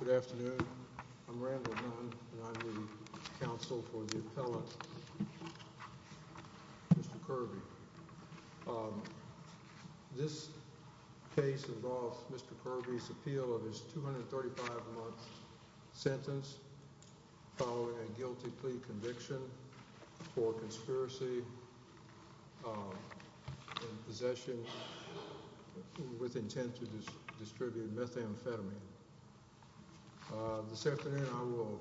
Good afternoon. I'm Randall Dunn, and I'm the counsel for the appellant, Mr. Kearby. This case involves Mr. Kearby's appeal of his 235-month sentence following a guilty plea conviction for conspiracy in possession with intent to distribute methamphetamine. This afternoon I will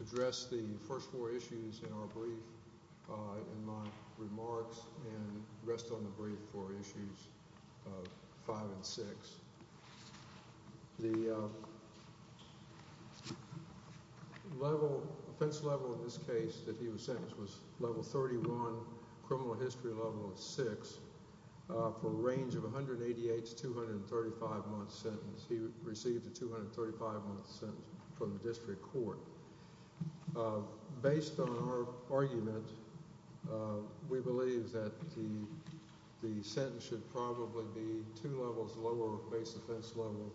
address the first four issues in our brief in my remarks and rest on the brief for issues 5 and 6. The offense level in this case that he was sentenced was level 31, criminal history level of 6, for a range of 188 to 235-month sentences. He received a 235-month sentence from the district court. Based on our argument, we believe that the sentence should probably be two levels lower base offense level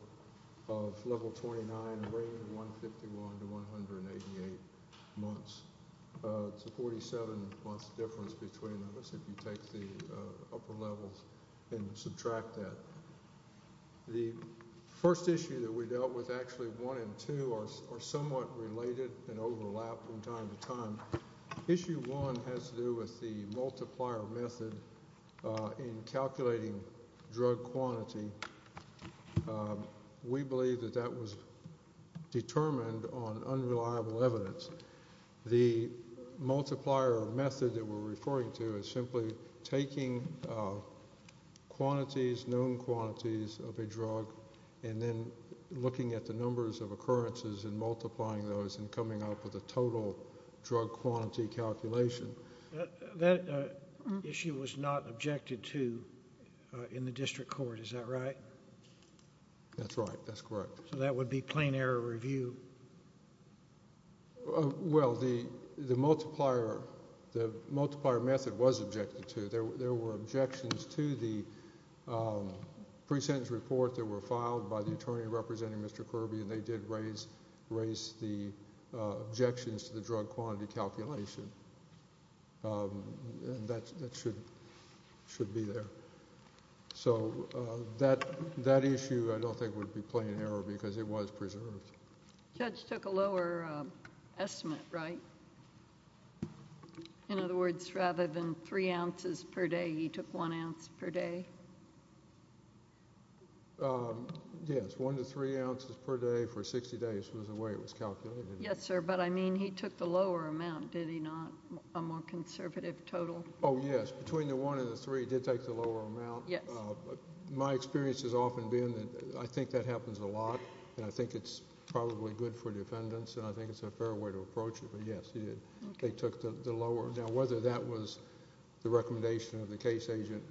of level 29, a range of 151 to 188 months. It's a 47-month difference between those if you take the upper levels and subtract that. The first issue that we dealt with, actually 1 and 2, are somewhat related and overlap from time to time. Issue 1 has to do with the multiplier method in calculating drug quantity. We believe that that was determined on unreliable evidence. The multiplier method that we're referring to is simply taking quantities, known quantities of a drug, and then looking at the numbers of occurrences and multiplying those and coming up with a total drug quantity calculation. That issue was not objected to in the district court, is that right? That's right, that's correct. So that would be plain error review? Well, the multiplier method was objected to. There were objections to the pre-sentence report that were filed by the attorney representing Mr. Kirby, and they did raise the objections to the drug quantity calculation. That should be there. So that issue I don't think would be plain error because it was preserved. The judge took a lower estimate, right? In other words, rather than three ounces per day, he took one ounce per day? Yes, one to three ounces per day for 60 days was the way it was calculated. Yes, sir, but I mean he took the lower amount, did he not, a more conservative total? Oh, yes. Between the one and the three, he did take the lower amount. My experience has often been that I think that happens a lot, and I think it's probably good for defendants, and I think it's a fair way to approach it, but, yes, he did. They took the lower. Now, whether that was the recommendation of the case agent,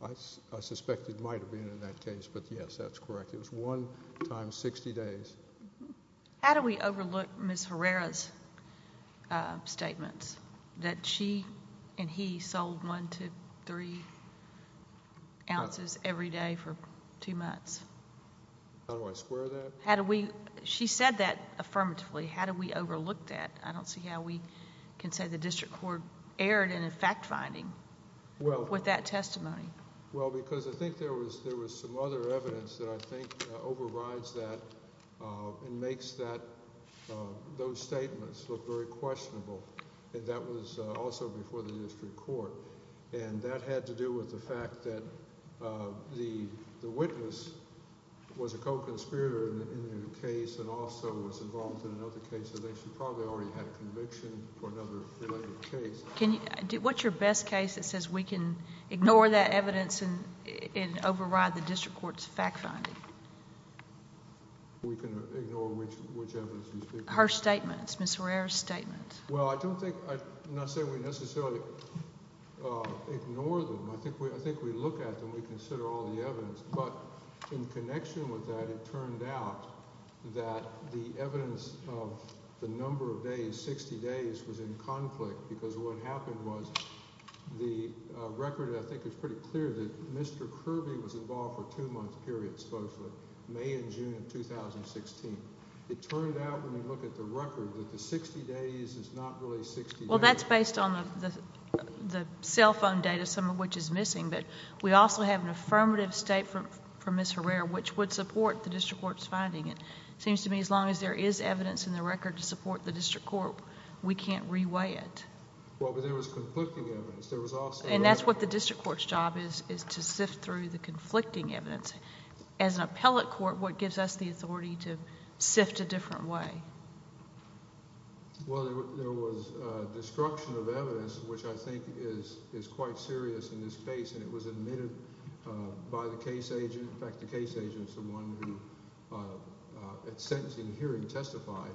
I suspect it might have been in that case, but, yes, that's correct. It was one times 60 days. How do we overlook Ms. Herrera's statements that she and he sold one to three ounces every day for two months? How do I square that? She said that affirmatively. How do we overlook that? I don't see how we can say the district court erred in a fact finding with that testimony. Well, because I think there was some other evidence that I think overrides that and makes those statements look very questionable, and that was also before the district court, and that had to do with the fact that the witness was a co-conspirator in the case and also was involved in another case, and they probably already had a conviction for another related case. What's your best case that says we can ignore that evidence and override the district court's fact finding? We can ignore which evidence you speak of. Her statements, Ms. Herrera's statements. Well, I don't think, I'm not saying we necessarily ignore them. I think we look at them. We consider all the evidence, but in connection with that, it turned out that the evidence of the number of days, 60 days, was in conflict because what happened was the record I think is pretty clear that Mr. Kirby was involved for a two-month period, supposedly May and June of 2016. It turned out when we look at the record that the 60 days is not really 60 days. Well, that's based on the cell phone data, some of which is missing, but we also have an affirmative statement from Ms. Herrera which would support the district court's finding. It seems to me as long as there is evidence in the record to support the district court, we can't reweigh it. Well, but there was conflicting evidence. And that's what the district court's job is, is to sift through the conflicting evidence. As an appellate court, what gives us the authority to sift a different way? Well, there was destruction of evidence, which I think is quite serious in this case, and it was admitted by the case agent. In fact, the case agent is the one who at sentencing hearing testified.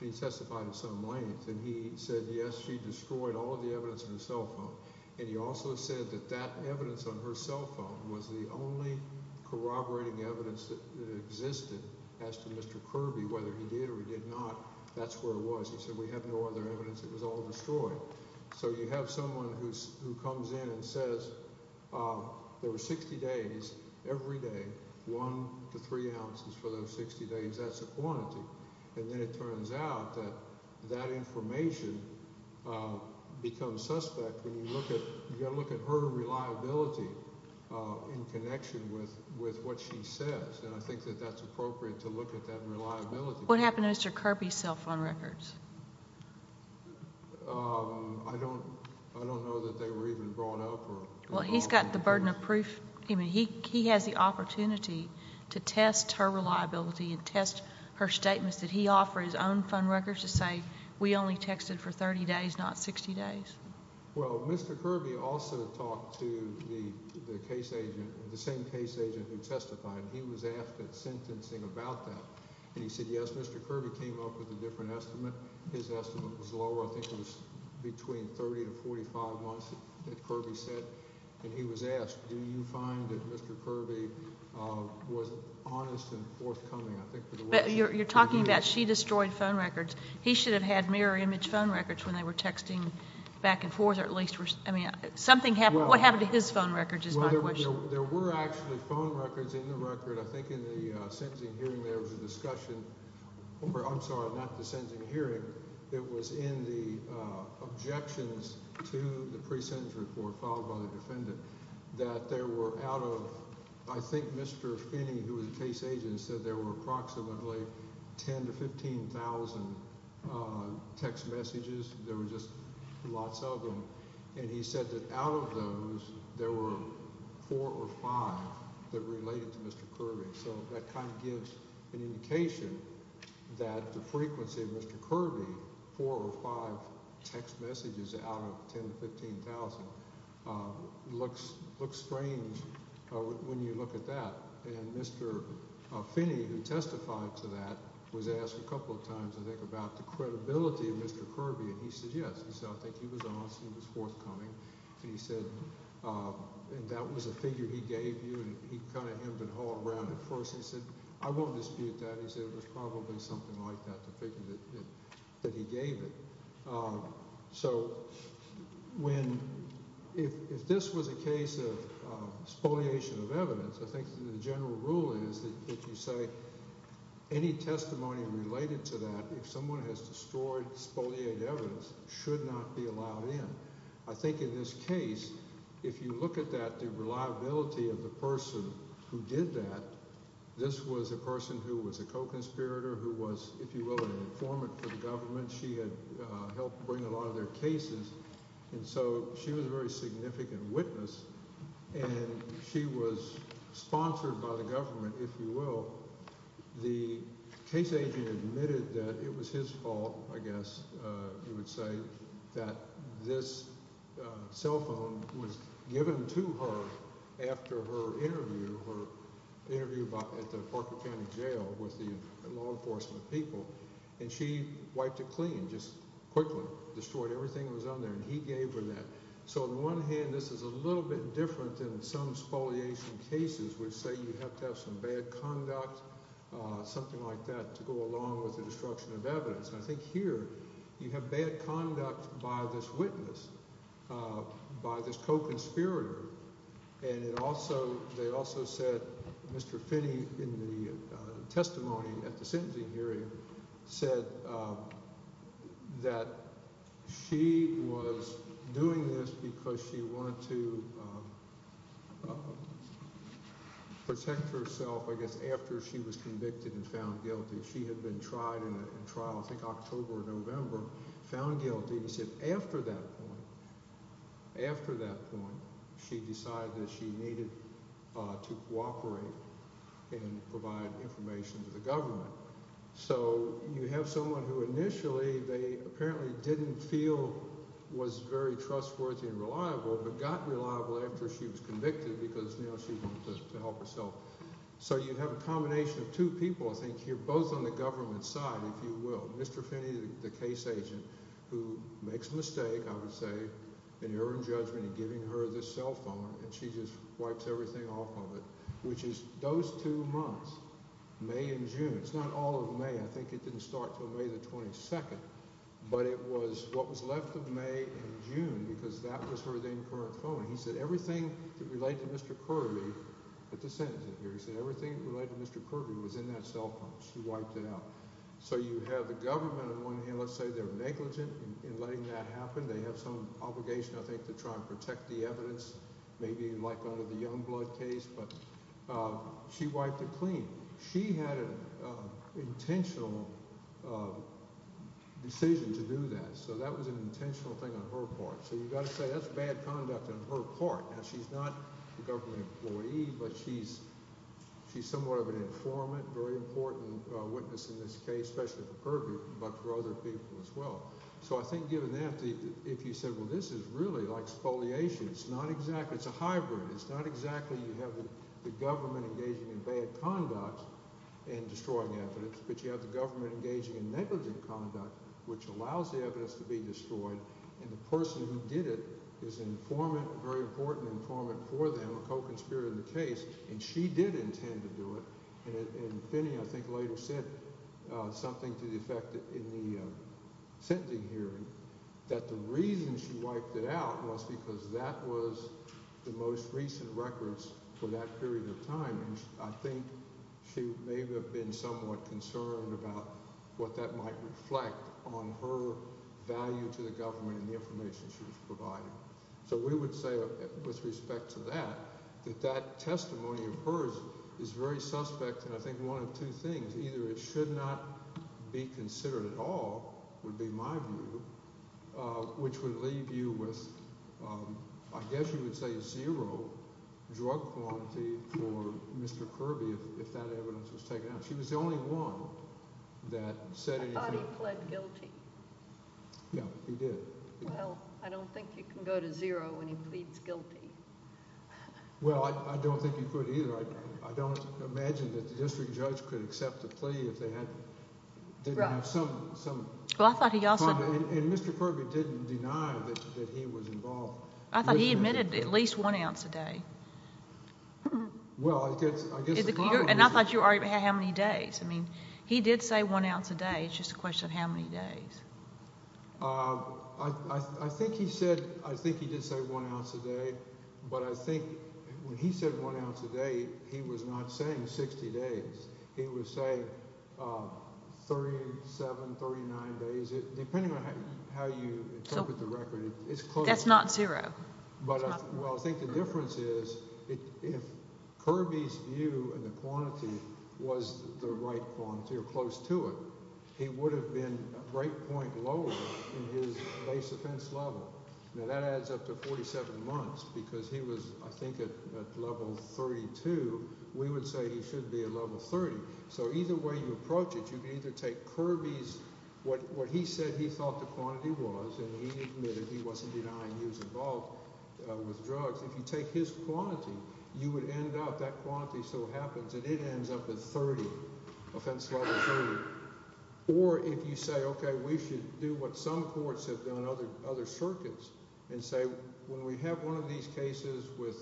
He testified at some length, and he said, yes, she destroyed all of the evidence in the cell phone. And he also said that that evidence on her cell phone was the only corroborating evidence that existed. He asked Mr. Kirby whether he did or he did not. That's where it was. He said, we have no other evidence. It was all destroyed. So you have someone who comes in and says there were 60 days, every day, one to three ounces for those 60 days. That's a quantity. And then it turns out that that information becomes suspect when you look at her reliability in connection with what she says. And I think that that's appropriate to look at that reliability. What happened to Mr. Kirby's cell phone records? I don't know that they were even brought up. Well, he's got the burden of proof. I mean, he has the opportunity to test her reliability and test her statements that he offered, his own phone records, to say we only texted for 30 days, not 60 days. Well, Mr. Kirby also talked to the case agent, the same case agent who testified. He was asked at sentencing about that. And he said, yes, Mr. Kirby came up with a different estimate. His estimate was lower. I think it was between 30 to 45 months that Kirby said. And he was asked, do you find that Mr. Kirby was honest and forthcoming? You're talking about she destroyed phone records. He should have had mirror image phone records when they were texting back and forth, or at least something happened. What happened to his phone records is my question. There were actually phone records in the record. I think in the sentencing hearing there was a discussion. I'm sorry, not the sentencing hearing. It was in the objections to the pre-sentence report followed by the defendant that there were out of, I think, Mr. Finney, who was a case agent, said there were approximately 10,000 to 15,000 text messages. There were just lots of them. And he said that out of those, there were four or five that related to Mr. Kirby. So that kind of gives an indication that the frequency of Mr. Kirby, four or five text messages out of 10,000 to 15,000, looks strange when you look at that. And Mr. Finney, who testified to that, was asked a couple of times, I think, about the credibility of Mr. Kirby, and he said yes. He said I think he was honest and he was forthcoming. He said that was a figure he gave you, and he kind of hemmed and hawed around it first. He said I won't dispute that. He said it was probably something like that, the figure that he gave it. So when – if this was a case of spoliation of evidence, I think the general rule is that if you say any testimony related to that, if someone has destroyed spoliated evidence, should not be allowed in. I think in this case, if you look at that, the reliability of the person who did that, this was a person who was a co-conspirator, who was, if you will, an informant for the government. She had helped bring a lot of their cases, and so she was a very significant witness, and she was sponsored by the government, if you will. The case agent admitted that it was his fault, I guess you would say, that this cell phone was given to her after her interview, her interview at the Parker County Jail with the law enforcement people. And she wiped it clean just quickly, destroyed everything that was on there, and he gave her that. So on the one hand, this is a little bit different than some spoliation cases, which say you have to have some bad conduct, something like that, to go along with the destruction of evidence. And I think here you have bad conduct by this witness, by this co-conspirator. And it also – they also said Mr. Finney, in the testimony at the sentencing hearing, said that she was doing this because she wanted to protect herself, I guess, after she was convicted and found guilty. She had been tried in trial, I think October or November, found guilty. She said after that point, after that point, she decided that she needed to cooperate and provide information to the government. So you have someone who initially they apparently didn't feel was very trustworthy and reliable, but got reliable after she was convicted because now she wanted to help herself. So you have a combination of two people, I think, here, both on the government side, if you will. Mr. Finney, the case agent, who makes a mistake, I would say, an error in judgment in giving her this cell phone, and she just wipes everything off of it, which is those two months, May and June. It's not all of May. I think it didn't start until May the 22nd. But it was what was left of May and June because that was her then current phone. He said everything related to Mr. Kirby at the sentencing hearing, he said everything related to Mr. Kirby was in that cell phone. She wiped it out. So you have the government on one hand. Let's say they're negligent in letting that happen. They have some obligation, I think, to try and protect the evidence, maybe like under the Youngblood case. But she wiped it clean. She had an intentional decision to do that, so that was an intentional thing on her part. So you've got to say that's bad conduct on her part. Now she's not a government employee, but she's somewhat of an informant, very important witness in this case, especially for Kirby, but for other people as well. So I think given that, if you said, well, this is really like spoliation, it's not exactly – it's a hybrid. It's not exactly you have the government engaging in bad conduct and destroying evidence, but you have the government engaging in negligent conduct, which allows the evidence to be destroyed, and the person who did it is an informant, a very important informant for them, a co-conspirator in the case, and she did intend to do it. And Finney, I think, later said something to the effect in the sentencing hearing that the reason she wiped it out was because that was the most recent records for that period of time. And I think she may have been somewhat concerned about what that might reflect on her value to the government and the information she was providing. So we would say, with respect to that, that that testimony of hers is very suspect in I think one of two things. Either it should not be considered at all, would be my view, which would leave you with I guess you would say zero drug quantity for Mr. Kirby if that evidence was taken out. She was the only one that said anything. I thought he pled guilty. Yeah, he did. Well, I don't think you can go to zero when he pleads guilty. Well, I don't think you could either. I don't imagine that the district judge could accept a plea if they didn't have some comment. And Mr. Kirby didn't deny that he was involved. I thought he admitted at least one ounce a day. And I thought you already had how many days. I mean, he did say one ounce a day. It's just a question of how many days. I think he said I think he did say one ounce a day. But I think when he said one ounce a day, he was not saying 60 days. He was saying 37, 39 days, depending on how you look at the record. It's close. That's not zero. Well, I think the difference is if Kirby's view and the quantity was the right quantity or close to it, he would have been a break point lower in his base offense level. Now, that adds up to 47 months because he was, I think, at level 32. We would say he should be at level 30. So either way you approach it, you can either take Kirby's – what he said he thought the quantity was, and he admitted he wasn't denying he was involved. If you take his quantity, you would end up – that quantity still happens, and it ends up at 30, offense level 30. Or if you say, okay, we should do what some courts have done, other circuits, and say when we have one of these cases with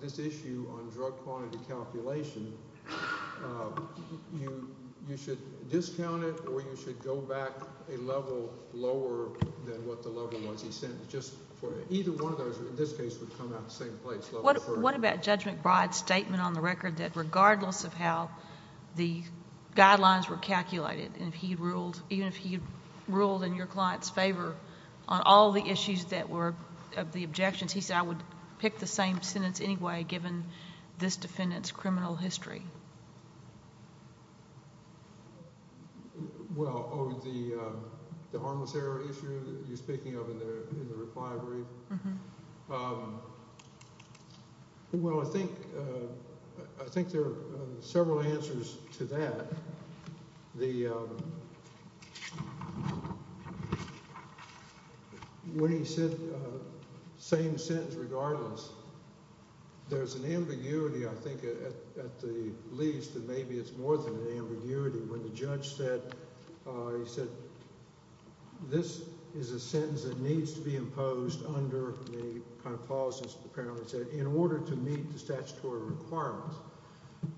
this issue on drug quantity calculation, you should discount it or you should go back a level lower than what the level was. Either one of those, in this case, would come out the same place, level 30. What about Judge McBride's statement on the record that regardless of how the guidelines were calculated, and if he ruled – even if he ruled in your client's favor on all the issues that were – of the objections, he said I would pick the same sentence anyway given this defendant's criminal history? Well, oh, the harmless error issue that you're speaking of in the reply brief? Well, I think there are several answers to that. The – when he said same sentence regardless, there's an ambiguity, I think, at the least, and maybe it's more than an ambiguity. When the judge said – he said this is a sentence that needs to be imposed under the kind of policies, apparently he said, in order to meet the statutory requirements.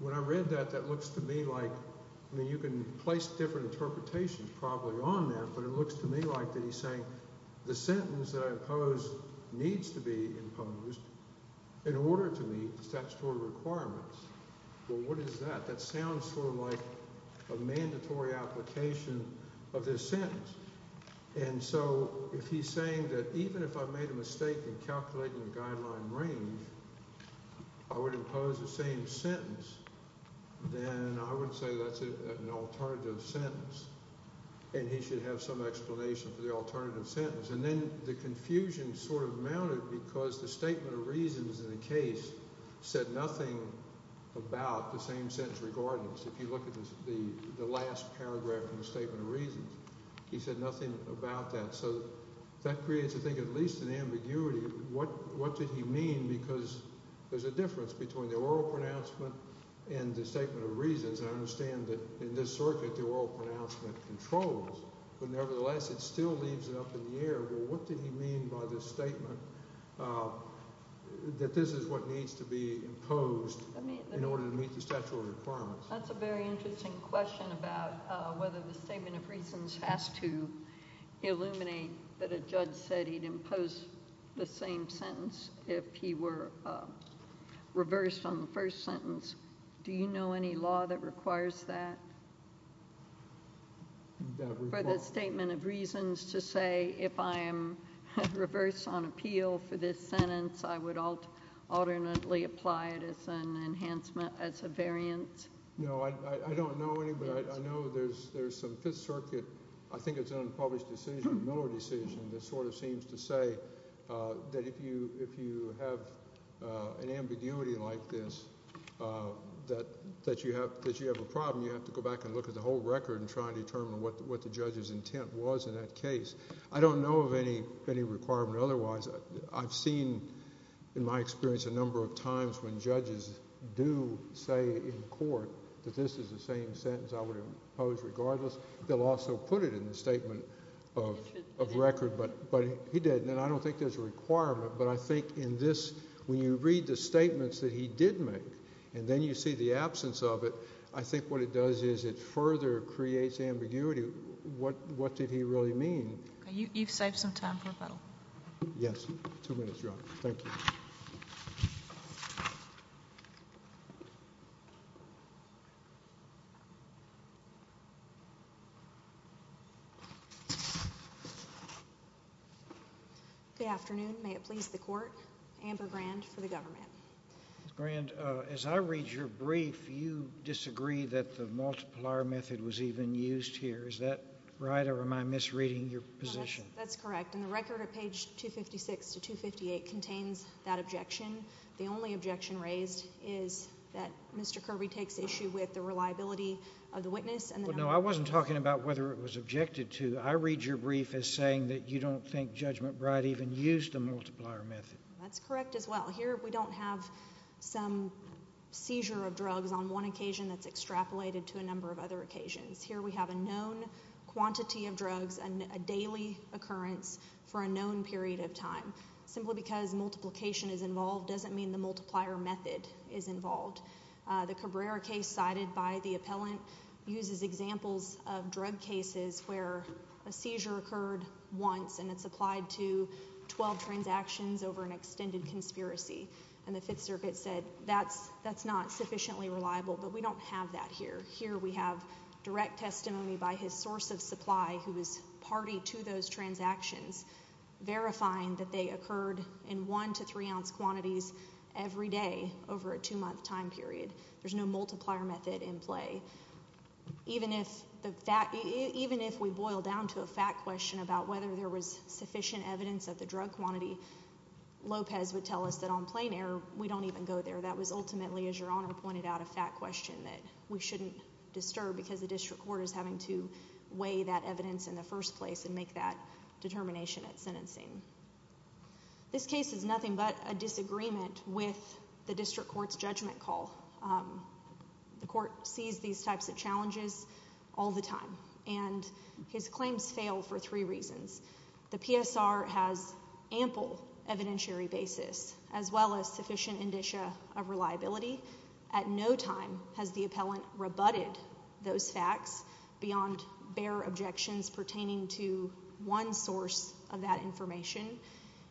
When I read that, that looks to me like – I mean you can place different interpretations probably on that, but it looks to me like that he's saying the sentence that I oppose needs to be imposed in order to meet the statutory requirements. Well, what is that? That sounds sort of like a mandatory application of this sentence. And so if he's saying that even if I made a mistake in calculating the guideline range, I would impose the same sentence, then I would say that's an alternative sentence, and he should have some explanation for the alternative sentence. And then the confusion sort of mounted because the statement of reasons in the case said nothing about the same sentence regardless. If you look at the last paragraph in the statement of reasons, he said nothing about that. So that creates, I think, at least an ambiguity. What did he mean? Because there's a difference between the oral pronouncement and the statement of reasons. I understand that in this circuit the oral pronouncement controls, but nevertheless it still leaves it up in the air. Well, what did he mean by the statement that this is what needs to be imposed in order to meet the statutory requirements? That's a very interesting question about whether the statement of reasons has to illuminate that a judge said he'd impose the same sentence if he were reversed on the first sentence. Do you know any law that requires that for the statement of reasons to say if I am reversed on appeal for this sentence, I would alternately apply it as an enhancement, as a variance? No, I don't know any, but I know there's some Fifth Circuit, I think it's an unpublished decision, Miller decision, that sort of seems to say that if you have an ambiguity like this, that you have a problem, you have to go back and look at the whole record and try and determine what the judge's intent was in that case. I don't know of any requirement otherwise. I've seen, in my experience, a number of times when judges do say in court that this is the same sentence I would impose regardless, they'll also put it in the statement of record, but he didn't, and I don't think there's a requirement, but I think in this, when you read the statements that he did make and then you see the absence of it, I think what it does is it further creates ambiguity. What did he really mean? You've saved some time for rebuttal. Yes. Two minutes, Your Honor. Thank you. Good afternoon. May it please the Court. Amber Grand for the government. Ms. Grand, as I read your brief, you disagree that the multiplier method was even used here. Is that right, or am I misreading your position? That's correct, and the record at page 256 to 258 contains that objection. The only objection raised is that Mr. Kirby takes issue with the reliability of the witness. No, I wasn't talking about whether it was objected to. I read your brief as saying that you don't think Judge McBride even used the multiplier method. That's correct as well. Here we don't have some seizure of drugs on one occasion that's extrapolated to a number of other occasions. Here we have a known quantity of drugs, a daily occurrence for a known period of time. Simply because multiplication is involved doesn't mean the multiplier method is involved. The Cabrera case cited by the appellant uses examples of drug cases where a seizure occurred once and it's applied to 12 transactions over an extended conspiracy, and the Fifth Circuit said that's not sufficiently reliable, but we don't have that here. Here we have direct testimony by his source of supply who was party to those transactions, verifying that they occurred in one to three ounce quantities every day over a two-month time period. There's no multiplier method in play. Even if we boil down to a fact question about whether there was sufficient evidence of the drug quantity, Lopez would tell us that on plain air we don't even go there. That was ultimately, as Your Honor pointed out, a fact question that we shouldn't disturb because the district court is having to weigh that evidence in the first place and make that determination at sentencing. This case is nothing but a disagreement with the district court's judgment call. The court sees these types of challenges all the time, and his claims fail for three reasons. The PSR has ample evidentiary basis as well as sufficient indicia of reliability. At no time has the appellant rebutted those facts beyond bare objections pertaining to one source of that information.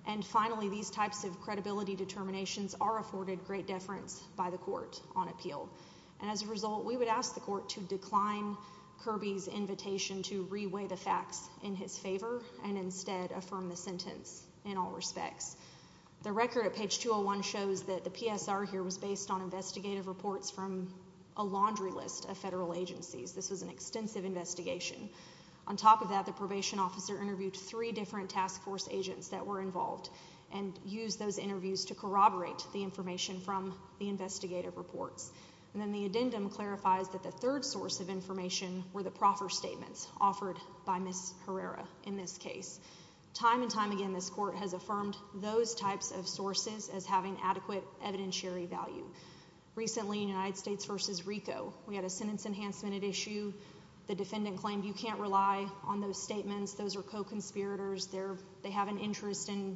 And finally, these types of credibility determinations are afforded great deference by the court on appeal. As a result, we would ask the court to decline Kirby's invitation to reweigh the facts in his favor and instead affirm the sentence in all respects. The record at page 201 shows that the PSR here was based on investigative reports from a laundry list of federal agencies. This was an extensive investigation. On top of that, the probation officer interviewed three different task force agents that were involved and used those interviews to corroborate the information from the investigative reports. And then the addendum clarifies that the third source of information were the proffer statements offered by Ms. Herrera in this case. Time and time again, this court has affirmed those types of sources as having adequate evidentiary value. Recently in United States v. RICO, we had a sentence enhancement at issue. The defendant claimed, you can't rely on those statements. Those are co-conspirators. They have an interest in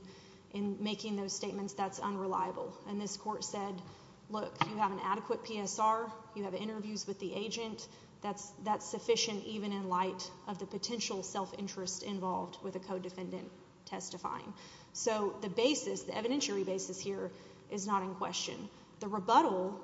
making those statements. That's unreliable. And this court said, look, you have an adequate PSR. You have interviews with the agent. That's sufficient even in light of the potential self-interest involved with a co-defendant testifying. So the basis, the evidentiary basis here is not in question. The rebuttal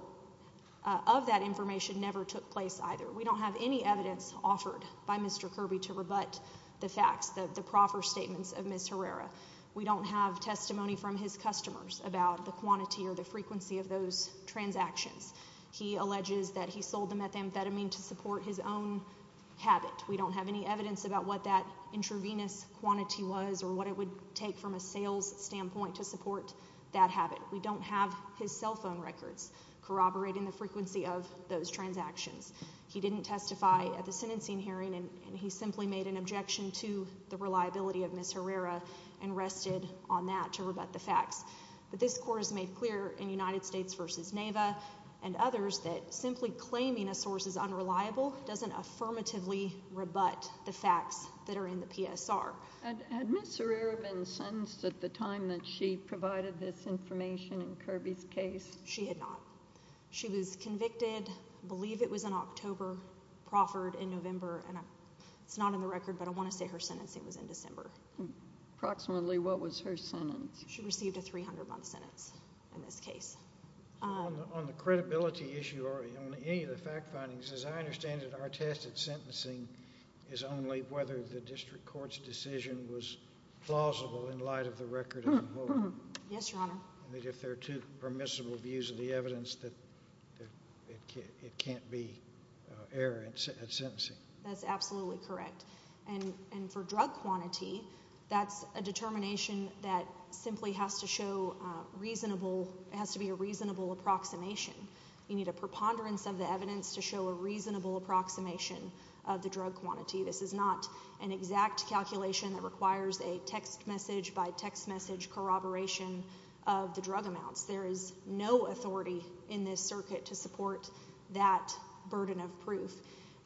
of that information never took place either. We don't have any evidence offered by Mr. Kirby to rebut the facts, the proffer statements of Ms. Herrera. We don't have testimony from his customers about the quantity or the frequency of those transactions. He alleges that he sold the methamphetamine to support his own habit. We don't have any evidence about what that intravenous quantity was or what it would take from a sales standpoint to support that habit. We don't have his cell phone records corroborating the frequency of those transactions. He didn't testify at the sentencing hearing, and he simply made an objection to the reliability of Ms. Herrera and rested on that to rebut the facts. But this court has made clear in United States v. NAVA and others that simply claiming a source is unreliable doesn't affirmatively rebut the facts that are in the PSR. Had Ms. Herrera been sentenced at the time that she provided this information in Kirby's case? She had not. She was convicted, I believe it was in October, proffered in November, and it's not on the record, but I want to say her sentencing was in December. Approximately what was her sentence? She received a 300-month sentence in this case. On the credibility issue or on any of the fact findings, as I understand it, our test at sentencing is only whether the district court's decision was plausible in light of the record of the court. Yes, Your Honor. If there are two permissible views of the evidence, it can't be error at sentencing. That's absolutely correct. And for drug quantity, that's a determination that simply has to be a reasonable approximation. You need a preponderance of the evidence to show a reasonable approximation of the drug quantity. This is not an exact calculation that requires a text message by text message corroboration of the drug amounts. There is no authority in this circuit to support that burden of proof.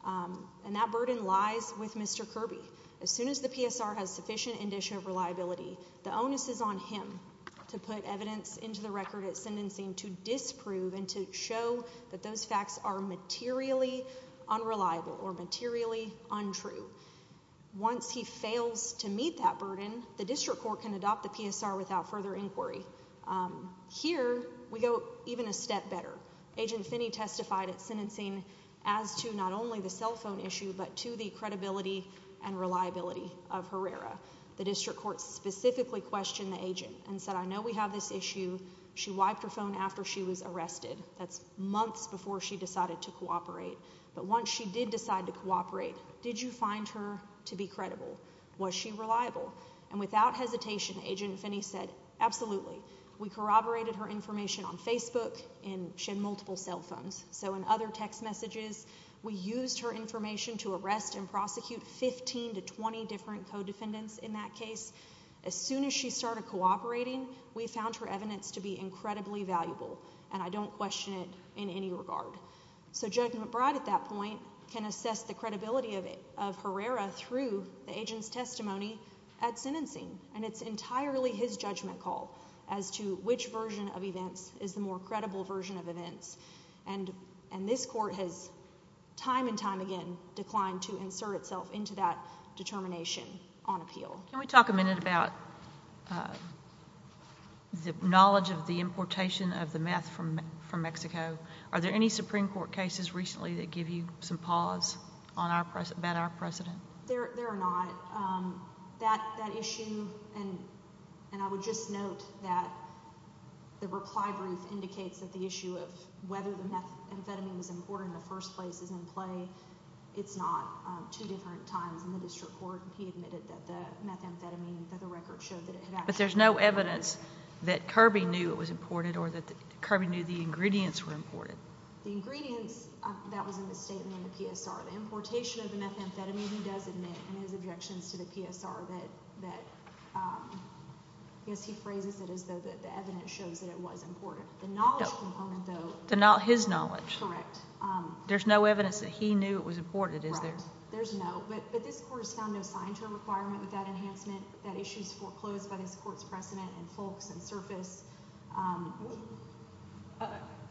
And that burden lies with Mr. Kirby. As soon as the PSR has sufficient indicia of reliability, the onus is on him to put evidence into the record at sentencing to disprove and to show that those facts are materially unreliable or materially untrue. Once he fails to meet that burden, the district court can adopt the PSR without further inquiry. Here we go even a step better. Agent Finney testified at sentencing as to not only the cell phone issue but to the credibility and reliability of Herrera. The district court specifically questioned the agent and said, I know we have this issue. She wiped her phone after she was arrested. That's months before she decided to cooperate. But once she did decide to cooperate, did you find her to be credible? Was she reliable? And without hesitation, Agent Finney said, absolutely. We corroborated her information on Facebook and she had multiple cell phones. So in other text messages, we used her information to arrest and prosecute 15 to 20 different co-defendants in that case. As soon as she started cooperating, we found her evidence to be incredibly valuable. And I don't question it in any regard. So Judge McBride at that point can assess the credibility of Herrera through the agent's testimony at sentencing. And it's entirely his judgment call as to which version of events is the more credible version of events. And this court has time and time again declined to insert itself into that determination on appeal. Can we talk a minute about the knowledge of the importation of the meth from Mexico? Are there any Supreme Court cases recently that give you some pause about our precedent? There are not. That issue, and I would just note that the reply brief indicates that the issue of whether the methamphetamine was imported in the first place is in play. It's not. Two different times in the district court, he admitted that the methamphetamine, that the record showed that it had actually been imported. There's no evidence that Kirby knew it was imported or that Kirby knew the ingredients were imported. The ingredients, that was in the statement in the PSR. The importation of the methamphetamine, he does admit in his objections to the PSR that, I guess he phrases it as though the evidence shows that it was imported. The knowledge component, though. His knowledge. Correct. There's no evidence that he knew it was imported, is there? Right. There's no. But this court has found no sign to a requirement with that enhancement. That issue is foreclosed by this court's precedent and folks and surface.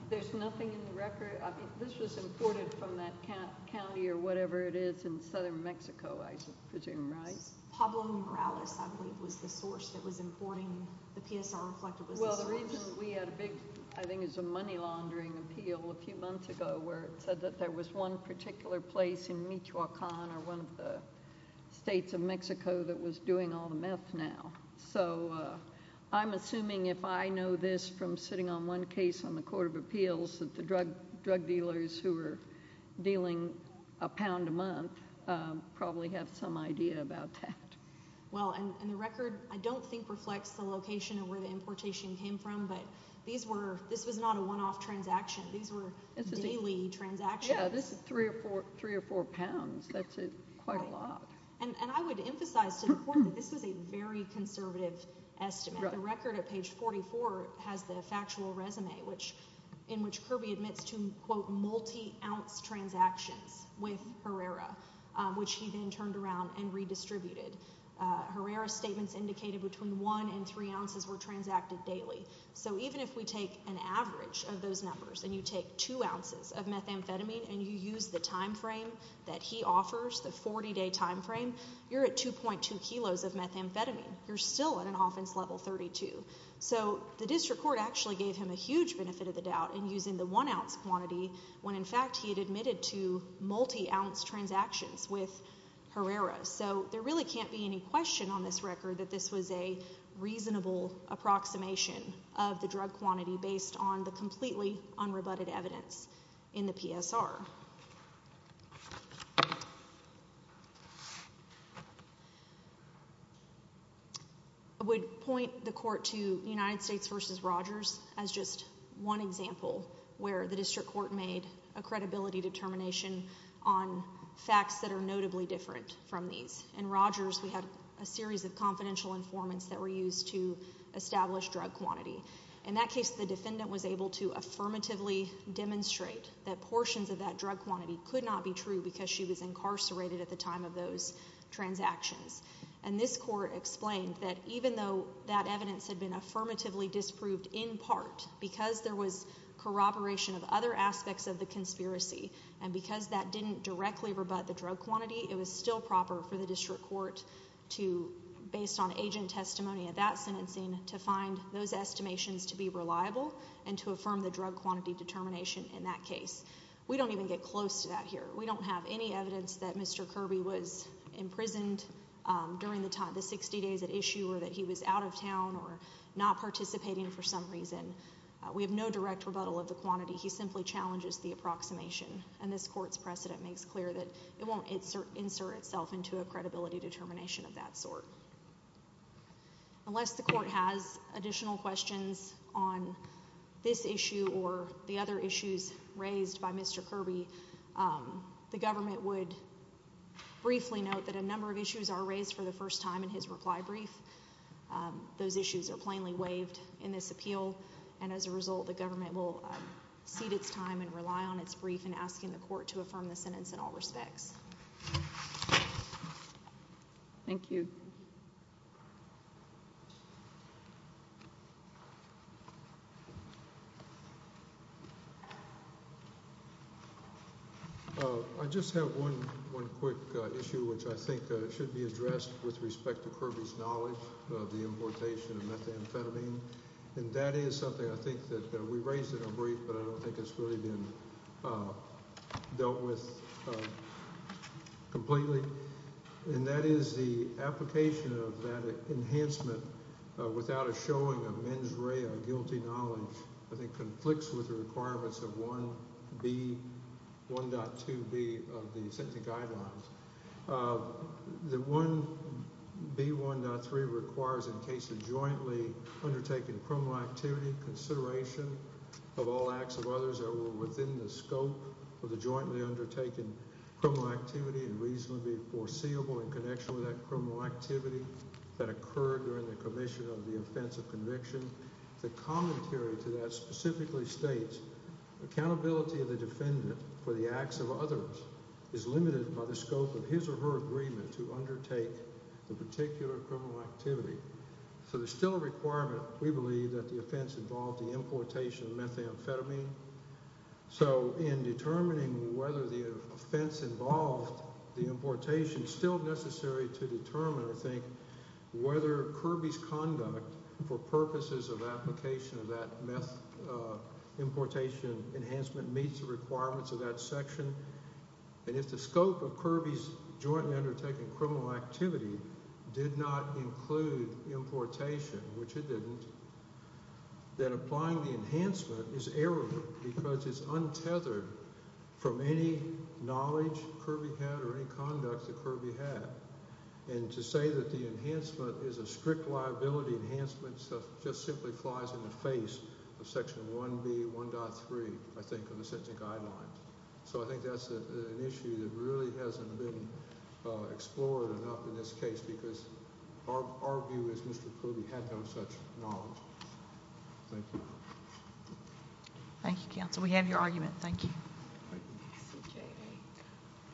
There's nothing in the record. This was imported from that county or whatever it is in southern Mexico, I presume, right? Pablo Morales, I believe, was the source that was importing. The PSR reflected was the source. We had a big, I think it was a money laundering appeal a few months ago where it said that there was one particular place in Michoacan or one of the states of Mexico that was doing all the meth now. So I'm assuming if I know this from sitting on one case on the Court of Appeals that the drug dealers who were dealing a pound a month probably have some idea about that. Well, and the record I don't think reflects the location of where the importation came from, but this was not a one-off transaction. These were daily transactions. Yeah, this is three or four pounds. That's quite a lot. And I would emphasize to the court that this was a very conservative estimate. The record at page 44 has the factual resume in which Kirby admits to, quote, multi-ounce transactions with Herrera, which he then turned around and redistributed. Herrera's statements indicated between one and three ounces were transacted daily. So even if we take an average of those numbers and you take two ounces of methamphetamine and you use the timeframe that he offers, the 40-day timeframe, you're at 2.2 kilos of methamphetamine. You're still at an offense level 32. So the district court actually gave him a huge benefit of the doubt in using the one-ounce quantity when, in fact, he had admitted to multi-ounce transactions with Herrera. So there really can't be any question on this record that this was a reasonable approximation of the drug quantity based on the completely unrebutted evidence in the PSR. I would point the court to United States v. Rogers as just one example where the district court made a credibility determination on facts that are notably different from these. In Rogers, we had a series of confidential informants that were used to establish drug quantity. In that case, the defendant was able to affirmatively demonstrate that portions of that drug quantity could not be true because she was incarcerated at the time of those transactions. And this court explained that even though that evidence had been affirmatively disproved in part because there was corroboration of other aspects of the conspiracy and because that didn't directly rebut the drug quantity, it was still proper for the district court to, based on agent testimony of that sentencing, to find those estimations to be reliable and to affirm the drug quantity determination in that case. We don't even get close to that here. We don't have any evidence that Mr. Kirby was imprisoned during the 60 days at issue or that he was out of town or not participating for some reason. We have no direct rebuttal of the quantity. He simply challenges the approximation. And this court's precedent makes clear that it won't insert itself into a credibility determination of that sort. Unless the court has additional questions on this issue or the other issues raised by Mr. Kirby, the government would briefly note that a number of issues are raised for the first time in his reply brief. Those issues are plainly waived in this appeal. And as a result, the government will cede its time and rely on its brief in asking the court to affirm the sentence in all respects. Thank you. I just have one quick issue, which I think should be addressed with respect to Kirby's knowledge of the importation of methamphetamine. And that is something I think that we raised in our brief, but I don't think it's really been dealt with completely. And that is the application of that enhancement without a showing of mens rea, a guilty knowledge, I think conflicts with the requirements of 1B, 1.2B of the sentencing guidelines. The 1B, 1.3 requires in case of jointly undertaking criminal activity consideration of all acts of others that were within the scope of the jointly undertaken criminal activity and reasonably foreseeable in connection with that criminal activity that occurred during the commission of the offense of conviction. The commentary to that specifically states accountability of the defendant for the acts of others is limited by the scope of his or her agreement to undertake the particular criminal activity. So there's still a requirement, we believe, that the offense involved the importation of methamphetamine. So in determining whether the offense involved the importation, it's still necessary to determine, I think, whether Kirby's conduct for purposes of application of that importation enhancement meets the requirements of that section. And if the scope of Kirby's jointly undertaking criminal activity did not include importation, which it didn't, then applying the enhancement is error because it's untethered from any knowledge Kirby had or any conduct that Kirby had. And to say that the enhancement is a strict liability enhancement just simply flies in the face of Section 1B, 1.3, I think, of the sentencing guidelines. So I think that's an issue that really hasn't been explored enough in this case because our view is Mr. Kirby had no such knowledge. Thank you. Thank you, counsel. We have your argument. Thank you.